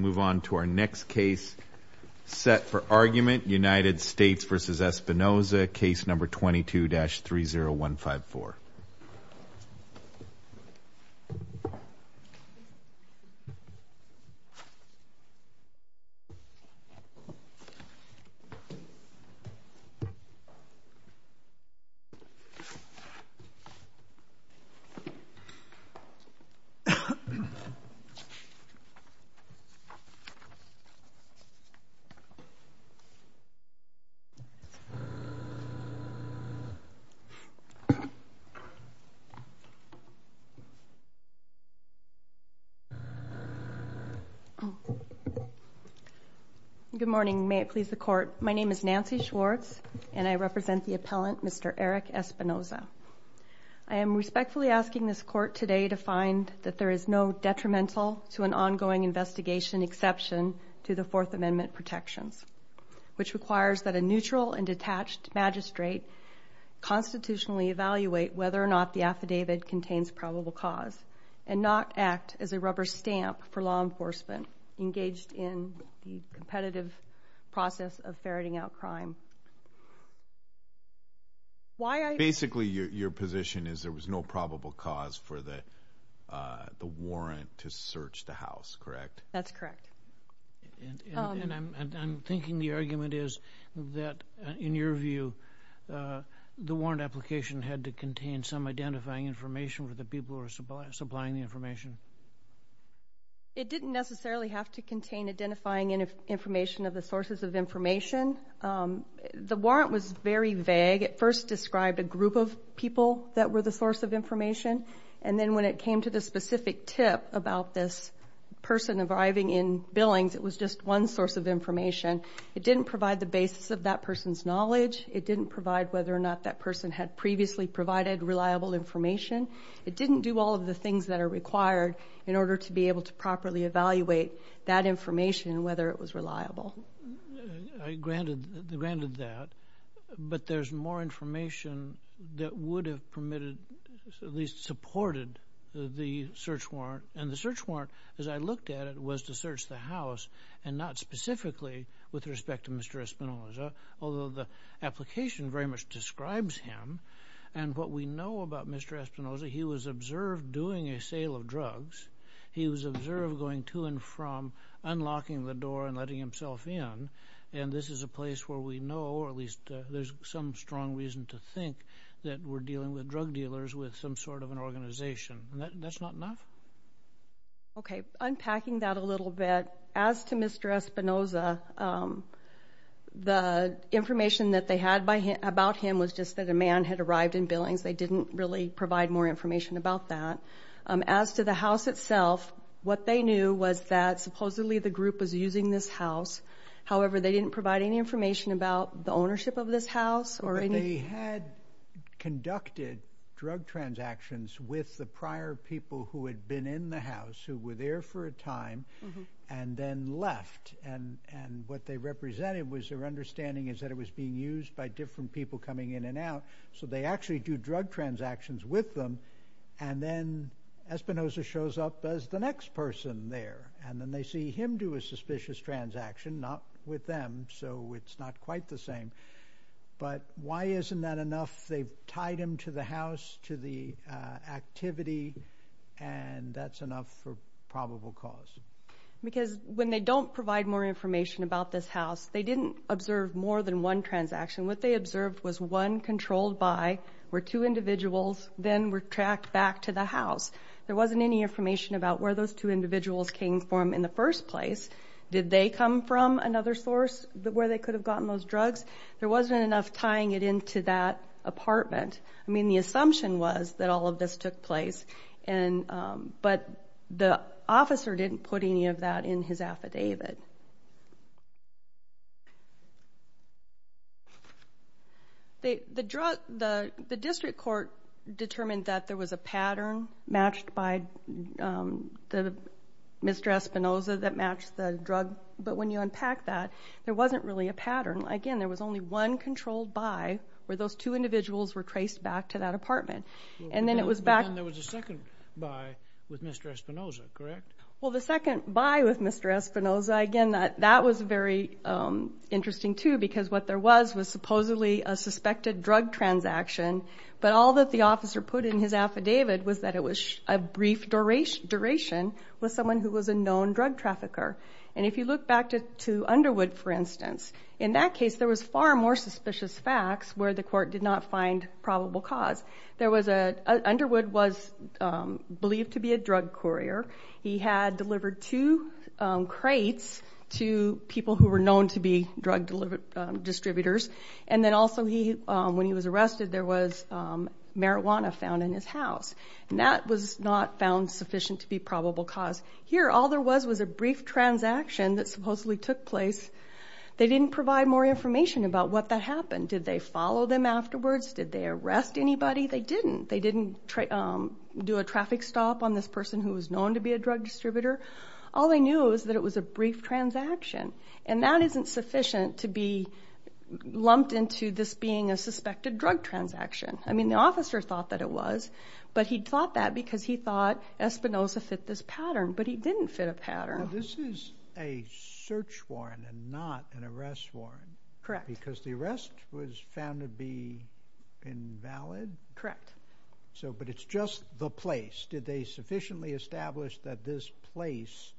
Move on to our next case set for argument, United States v. Espinoza, case number 22-30154. Good morning, may it please the court. My name is Nancy Schwartz and I represent the appellant, Mr. Eric Espinoza. I am respectfully asking this court today to find that there is no detrimental to an ongoing investigation exception to the Fourth Amendment protections, which requires that a neutral and detached magistrate constitutionally evaluate whether or not the affidavit contains probable cause and not act as a rubber stamp for law enforcement engaged in the competitive process of ferreting out crime. Basically, your position is there is no probable cause for the warrant to search the house, correct? That's correct. And I'm thinking the argument is that in your view, the warrant application had to contain some identifying information for the people who are supplying the information? It didn't necessarily have to contain identifying information of the sources of information. The warrant was very vague. It first described a group of people that were the source of information. And then when it came to the specific tip about this person arriving in Billings, it was just one source of information. It didn't provide the basis of that person's knowledge. It didn't provide whether or not that person had previously provided reliable information. It didn't do all of the things that are required in order to be able to properly evaluate that there's more information that would have permitted, at least supported, the search warrant. And the search warrant, as I looked at it, was to search the house and not specifically with respect to Mr. Espinoza, although the application very much describes him. And what we know about Mr. Espinoza, he was observed doing a sale of drugs. He was observed going to and from, unlocking the door and letting himself in. And this is a place where we know, or at least there's some strong reason to think, that we're dealing with drug dealers with some sort of an organization. That's not enough? Okay, unpacking that a little bit, as to Mr. Espinoza, the information that they had about him was just that a man had arrived in Billings. They didn't really provide more information about that. As to the house itself, what they knew was that supposedly the group was using this house. However, they didn't provide any information about the ownership of this house or any... They had conducted drug transactions with the prior people who had been in the house, who were there for a time, and then left. And what they represented was their understanding is that it was being used by different people coming in and out. So they actually do drug transactions with them, and then Espinoza shows up as the next person there. And then they see him do a suspicious transaction, not with them, so it's not quite the same. But why isn't that enough? They've tied him to the house, to the activity, and that's enough for probable cause. Because when they don't provide more information about this house, they didn't observe more than one transaction. What they were tracked back to the house. There wasn't any information about where those two individuals came from in the first place. Did they come from another source, where they could have gotten those drugs? There wasn't enough tying it into that apartment. I mean, the assumption was that all of this took place, but the officer didn't put any of that in his affidavit. The district court determined that there was a pattern matched by Mr. Espinoza that matched the drug, but when you unpack that, there wasn't really a pattern. Again, there was only one controlled buy, where those two individuals were traced back to that apartment. And then it was the second buy with Mr. Espinoza, correct? Well, the second buy with Mr. Espinoza, again, that was very interesting, too, because what there was was supposedly a suspected drug transaction, but all that the officer put in his affidavit was that it was a brief duration with someone who was a known drug trafficker. And if you look back to Underwood, for instance, in that case, there was far more Underwood was believed to be a drug courier. He had delivered two crates to people who were known to be drug distributors. And then also, when he was arrested, there was marijuana found in his house. And that was not found sufficient to be probable cause. Here, all there was was a brief transaction that supposedly took place. They didn't provide more information about what that happened. Did they do a traffic stop on this person who was known to be a drug distributor? All they knew is that it was a brief transaction. And that isn't sufficient to be lumped into this being a suspected drug transaction. I mean, the officer thought that it was, but he thought that because he thought Espinoza fit this pattern, but he didn't fit a pattern. This is a search warrant and not an arrest warrant. Correct. Because the arrest was found to be invalid. Correct. So but it's just the place. Did they sufficiently establish that this place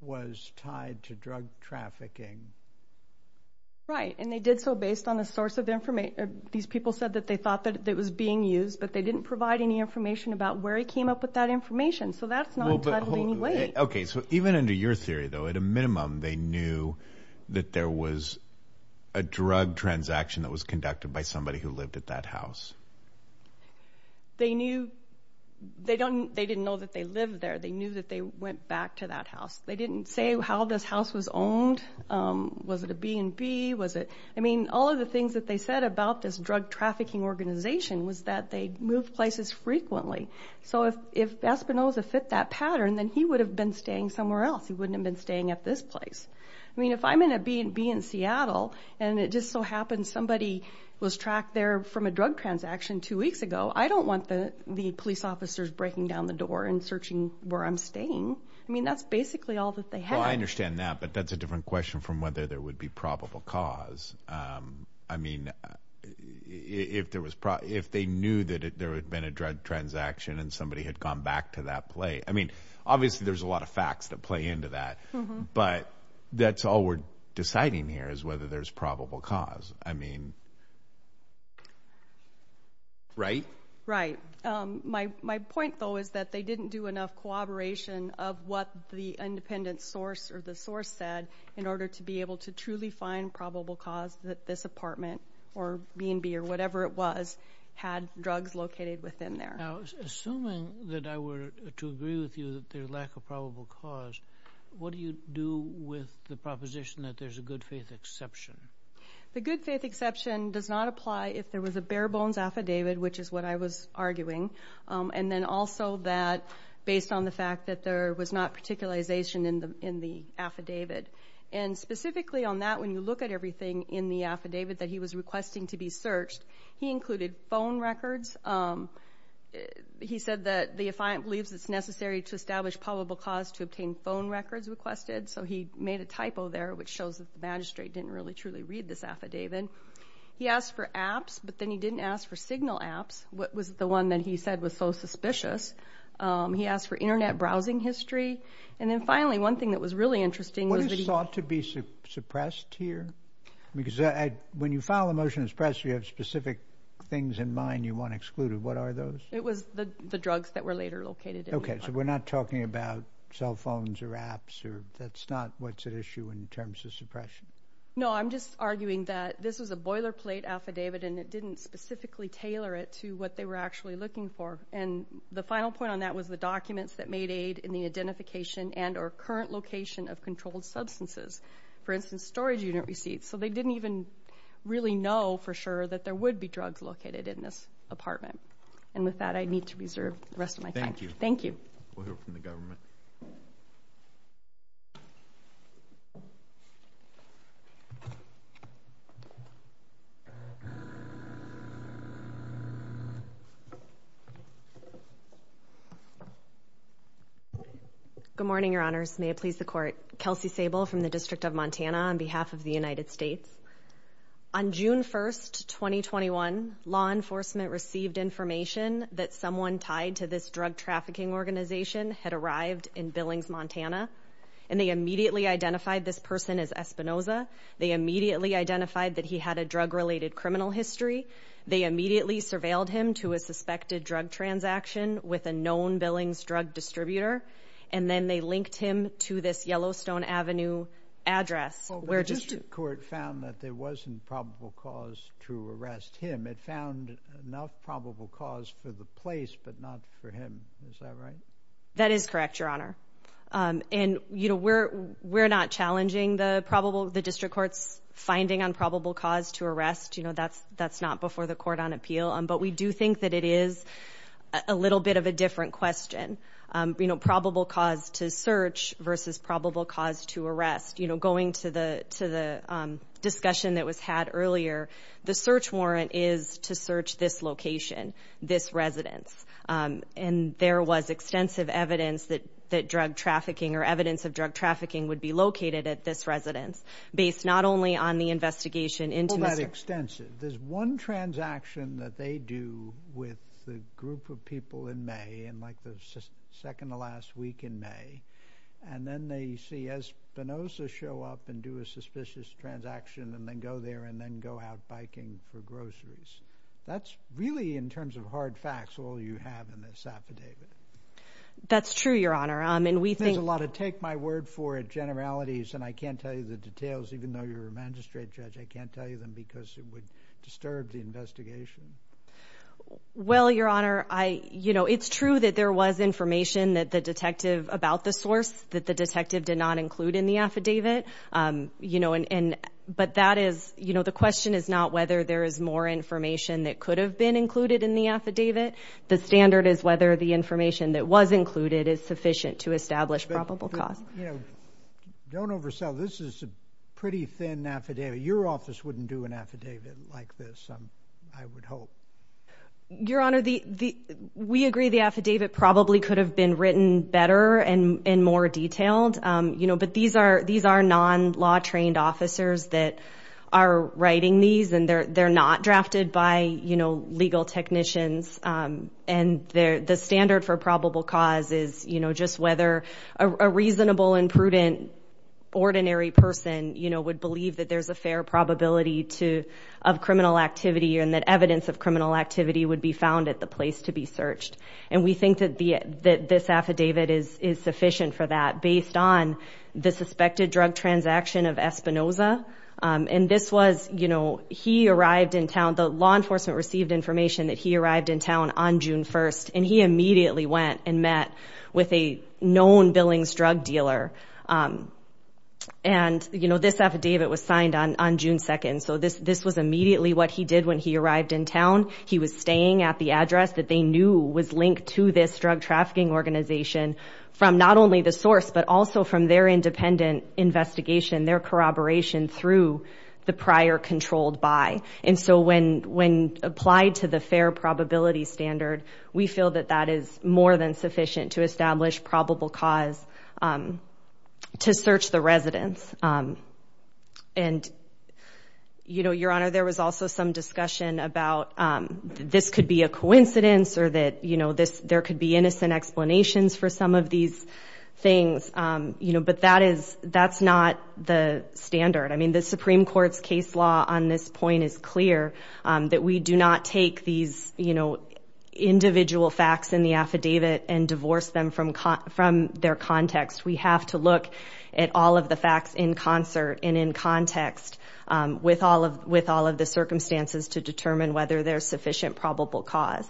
was tied to drug trafficking? Right. And they did so based on a source of information. These people said that they thought that it was being used, but they didn't provide any information about where he came up with that information. So that's not. Okay. So even under your theory, though, at a minimum, they knew that there was a that was conducted by somebody who lived at that house. They knew they don't. They didn't know that they lived there. They knew that they went back to that house. They didn't say how this house was owned. Was it a B&B? Was it? I mean, all of the things that they said about this drug trafficking organization was that they moved places frequently. So if if Espinoza fit that pattern, then he would have been staying somewhere else. He wouldn't have staying at this place. I mean, if I'm in a B&B in Seattle and it just so happens somebody was tracked there from a drug transaction two weeks ago, I don't want the police officers breaking down the door and searching where I'm staying. I mean, that's basically all that they had. I understand that. But that's a different question from whether there would be probable cause. I mean, if there was if they knew that there had been a drug transaction and somebody had gone back to that place. I mean, obviously, there's a lot of facts that play into that. But that's all we're deciding here is whether there's probable cause. I mean. Right, right. My my point, though, is that they didn't do enough cooperation of what the independent source or the source said in order to be able to truly find probable cause that this apartment or B&B or within their assuming that I were to agree with you that their lack of probable cause. What do you do with the proposition that there's a good faith exception? The good faith exception does not apply if there was a bare bones affidavit, which is what I was arguing. And then also that based on the fact that there was not particularization in the in the affidavit and specifically on that, when you look at everything in the affidavit that he was requesting to be searched, he included phone records. He said that the affiant believes it's necessary to establish probable cause to obtain phone records requested. So he made a typo there, which shows that the magistrate didn't really truly read this affidavit. He asked for apps, but then he didn't ask for signal apps. What was the one that he said was so suspicious? He asked for Internet browsing history. And then finally, one thing that was really interesting was that he thought to be suppressed here, because when you file a motion as pressed, you have specific things in mind you want excluded. What are those? It was the drugs that were later located. OK, so we're not talking about cell phones or apps or that's not what's at issue in terms of suppression. No, I'm just arguing that this was a boilerplate affidavit and it didn't specifically tailor it to what they were actually looking for. And the final point on that was the documents that made aid in the identification and or current location of controlled substances. For instance, storage unit receipts. So they didn't even really know for sure that there would be drugs located in this apartment. And with that, I need to reserve the rest of my time. Thank you. Thank you. We'll hear from the government. Good morning, Your Honors. May it please the court. Kelsey Sable from the District of Montana on behalf of the United States. On June 1st, 2021, law enforcement received information that someone tied to this drug trafficking organization had arrived in Billings, Montana, and they immediately identified this person as Espinoza. They immediately identified that he had a drug related criminal history. They immediately surveilled him to a suspected drug transaction with a known Billings drug distributor. And then they linked him to this Yellowstone Avenue address where just court found that there wasn't probable cause to arrest him. It found enough probable cause for the place, but not for him. Is that right? That is correct, Your Honor. We're not challenging the probable, the district court's finding on probable cause to arrest. You know, that's that's not before the court on appeal. But we do think that it is a little bit of a different question. You know, probable cause to search versus probable cause to arrest. You know, going to the to the discussion that was had earlier, the search warrant is to search this location, this residence. And there was extensive evidence that that drug trafficking or evidence of drug trafficking would be located at this residence based not only on the investigation into that extensive, there's one transaction that they do with the group of people in May and like the second to last week in May. And then they see Espinoza show up and do a suspicious transaction and then go there and then go out biking for groceries. That's really in terms of hard facts, all you have in this affidavit. That's true, Your Honor. I think there's a lot of take my word for it. Generalities. And I can't tell you the details, even though you're a magistrate judge, I can't tell you them because it would disturb the investigation. Well, Your Honor, I you know, it's true that there was information that the detective about the source that the detective did not include in the affidavit. Um, you know, and but that is, you know, the question is not whether there is more information that could have been included in the affidavit. The standard is whether the information that was included is sufficient to establish probable cause. You know, don't oversell. This is a pretty thin affidavit. Your office wouldn't do an affidavit like this. I would hope, Your Honor, the we agree the affidavit probably could have been written better and more detailed. Um, you know, but these are these are non law trained officers that are writing these and they're not drafted by, you know, legal technicians. Um, and the standard for probable cause is, you know, just whether a reasonable and prudent ordinary person, you know, would believe that there's a fair probability to of criminal activity and that evidence of criminal activity would be found at the place to be searched. And we think that this affidavit is sufficient for that based on the suspected drug transaction of Espinoza. Um, and this was, you know, he arrived in town. The law enforcement received information that he arrived in town on June 1st, and he immediately went and met with a known billings drug dealer. Um, and you know, this affidavit was signed on on June 2nd. So this this was immediately what he did when he arrived in town. He was staying at the address that they knew was linked to this drug trafficking organization from not only the source, but also from their independent investigation, their corroboration through the prior controlled by. And so when when applied to the fair probability standard, we feel that that is more than sufficient to establish probable cause, um, to search the residents. Um, and, you know, your honor, there was also some discussion about, um, this could be a coincidence or that, you know, this there could be innocent explanations for some of these things. Um, you know, but that is that's not the standard. I mean, the Supreme Court's case law on this point is clear that we do not take these, you know, individual facts in the affidavit and divorce them from from their context. We have to look at all of the facts in concert and in context, um, with all of with all of the circumstances to determine whether there's sufficient probable cause.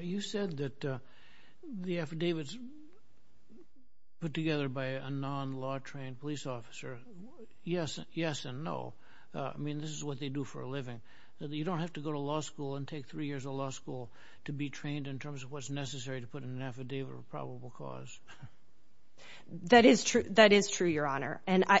You said that the affidavits put together by a non law trained police officer. Yes, yes and no. I mean, this is what they do for a living. You don't have to go to law school and take three years of law school to be trained in terms of what's necessary to put in an affidavit of probable cause. That is true. That is true, your honor. And I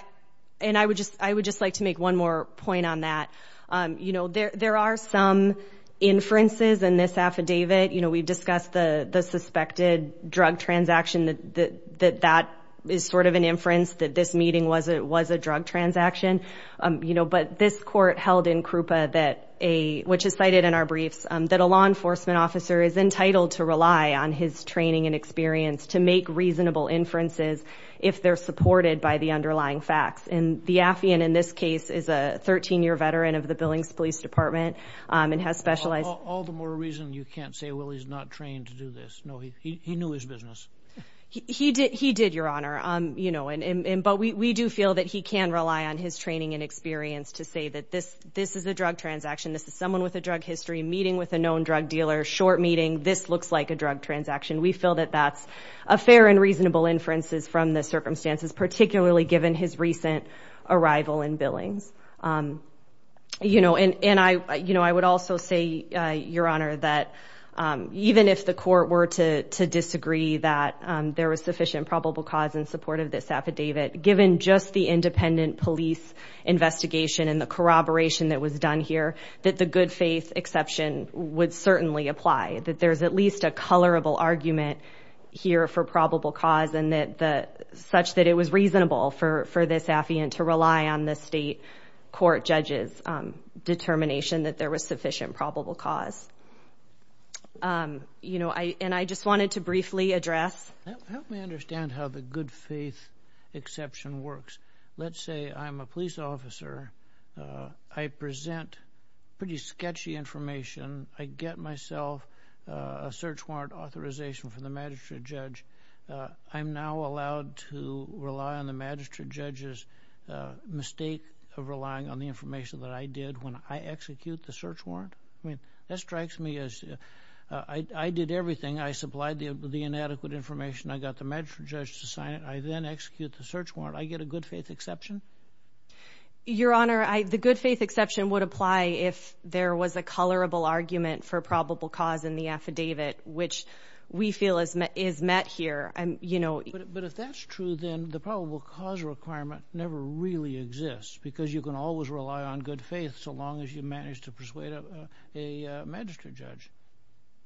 and I would just I would just like to make one more point on that. Um, you know, there there are some inferences in this affidavit. You know, we've discussed the suspected drug transaction that that that is sort of an inference that this meeting was it was a drug transaction. Um, you know, but this court held in Krupa that a which is cited in our briefs, um, that a law enforcement officer is entitled to rely on his training and experience to make reasonable inferences if they're supported by the underlying facts. And the Department, um, and has specialized all the more reason you can't say, well, he's not trained to do this. No, he knew his business. He did. He did, your honor. Um, you know, and but we do feel that he can rely on his training and experience to say that this this is a drug transaction. This is someone with a drug history meeting with a known drug dealer. Short meeting. This looks like a drug transaction. We feel that that's a fair and reasonable inferences from the circumstances, particularly given his recent arrival in billings. Um, you know, and and I, you know, I would also say, your honor, that even if the court were to to disagree that there was sufficient probable cause in support of this affidavit, given just the independent police investigation and the corroboration that was done here, that the good faith exception would certainly apply, that there's at least a colorable argument here for probable cause and that the such that it was reasonable for for this affiant to rely on the state court judges, um, determination that there was sufficient probable cause. Um, you know, I and I just wanted to briefly address help me understand how the good faith exception works. Let's say I'm a police officer. I present pretty sketchy information. I get myself a search warrant authorization from the magistrate judge. I'm now allowed to rely on the magistrate judges mistake of relying on the information that I did when I execute the search warrant. I mean, that search warrant, I get a good faith exception. Your honor, the good faith exception would apply if there was a colorable argument for probable cause in the affidavit, which we feel is is met here. You know, but if that's true, then the probable cause requirement never really exists because you can always rely on good faith so long as you manage to persuade a magistrate judge.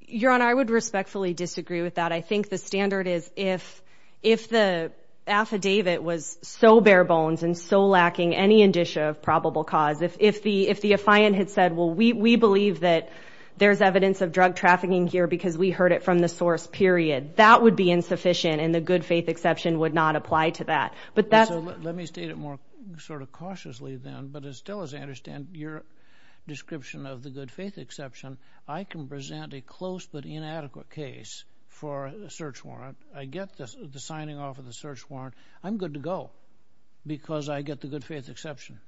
Your honor, I would respectfully disagree with that. I think the standard is if if the affidavit was so bare bones and so lacking any indicia of probable cause, if if the if the affiant had said, well, we we believe that there's evidence of drug trafficking here because we heard it from the source period, that would be insufficient and the good faith exception would not apply to that. But that's let me state it more sort of cautiously then. But it still is. I understand your description of the good faith exception. I can present a close but inadequate case for a search warrant. I get the signing off of the search warrant. I'm good to go because I get the good faith exception.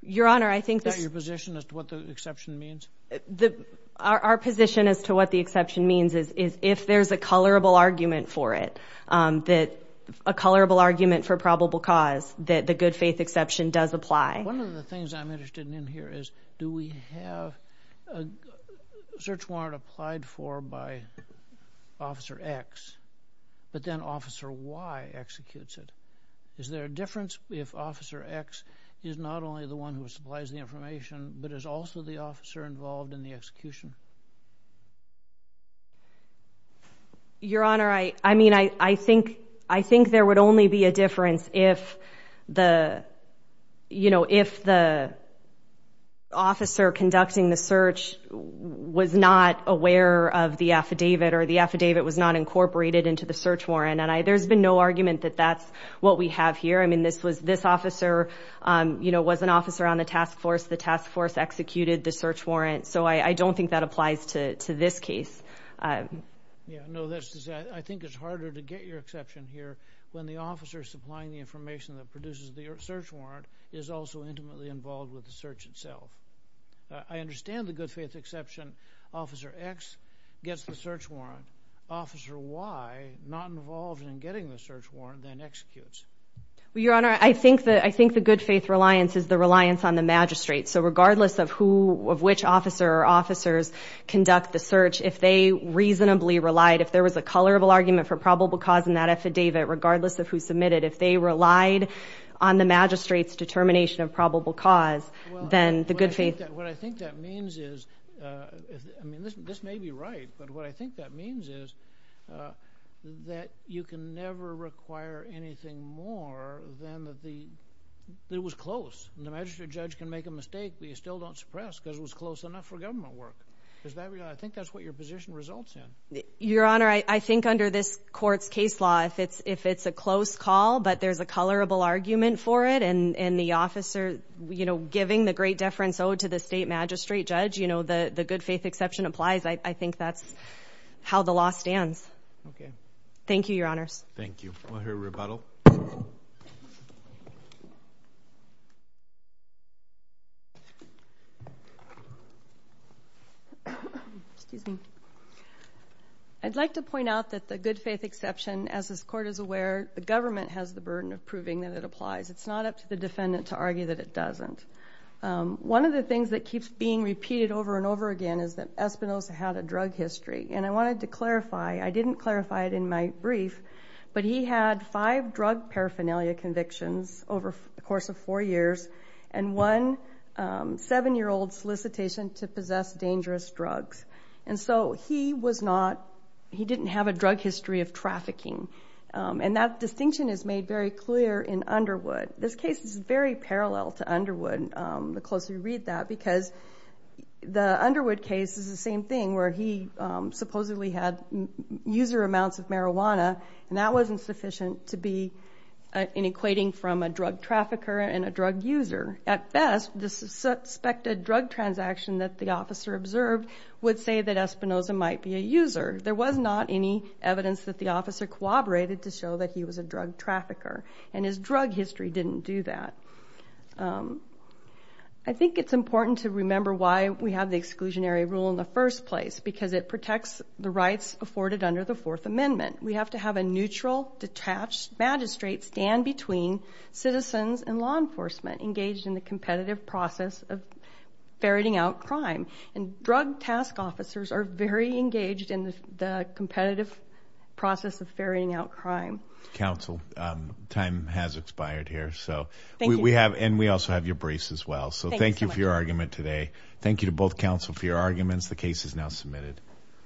Your honor, I think that your position as to what the exception means. The our position as to what the exception means is is if there's a colorable argument for it, that a colorable argument for probable cause that the good faith exception does apply. One of the things I'm interested in here is do we have a search warrant applied for by officer X but then officer Y executes it. Is there a difference if officer X is not only the one who supplies the information but is also the officer involved in the execution? Your honor, I I mean, I I think I think there would only be a difference if the you know, if the officer conducting the search was not aware of the affidavit or the affidavit was not incorporated into the search warrant. And I there's been no argument that that's what we have here. I mean, this was this officer you know, was an officer on the task force. The task force executed the search warrant. So I I don't think that applies to to this case. Yeah, no, that's I think it's harder to get your exception here when the officer supplying the information that produces the search warrant is also intimately involved with the search itself. I understand the good faith exception. Officer X gets the search warrant. Officer Y not involved in getting the search warrant then executes. Well, your honor, I think that I think the good faith reliance is the reliance on the magistrate. So regardless of who of which officer or officers conduct the search, if they reasonably relied, if there was a colorable argument for probable cause in that affidavit, regardless of who submitted, if they relied on the magistrate's determination of probable cause, then the good faith, what I think that means is I mean, this this may be right, but what I think that means is that you can never require anything more than that. The that was close and the magistrate judge can make a mistake, but you still don't suppress because it was close enough for government work. Is that I think that's what your position results in. Your honor, I think under this court's case law, if it's if it's a close call, but there's a colorable argument for it and and the officer, you know, giving the great deference owed to the state magistrate judge, you know, the the good faith exception applies. I I think that's how the law stands. Okay. Thank you, your honors. Thank you. We'll hear a rebuttal. Excuse me. I'd like to point out that the good faith exception as this court is aware, the government has the burden of proving that it applies. It's not up to the defendant to argue that it doesn't. One of the things that keeps being repeated over and over again is that Espinosa had a drug history and I wanted to clarify. I didn't clarify it in my brief, but he had five drug paraphernalia convictions over the course of 4 years and one 7 year old solicitation to possess dangerous drugs and so he was not he didn't have a drug history of trafficking and that distinction is made very clear in Underwood. This case is very parallel to Underwood. The closer you read that because the Underwood case is the same thing where he supposedly had user amounts of marijuana and that wasn't sufficient to be an equating from a drug trafficker and a drug user. At best, the suspected drug transaction that the officer observed would say that I think it's important to remember why we have the exclusionary rule in the first place because it protects the rights afforded under the Fourth Amendment. We have to have a neutral detached magistrate stand between citizens and law enforcement engaged in the competitive process of ferreting out crime and drug task officers are very We have and we also have your briefs as well. So thank you for your argument today. Thank you to both counsel for your arguments. The case is now submitted.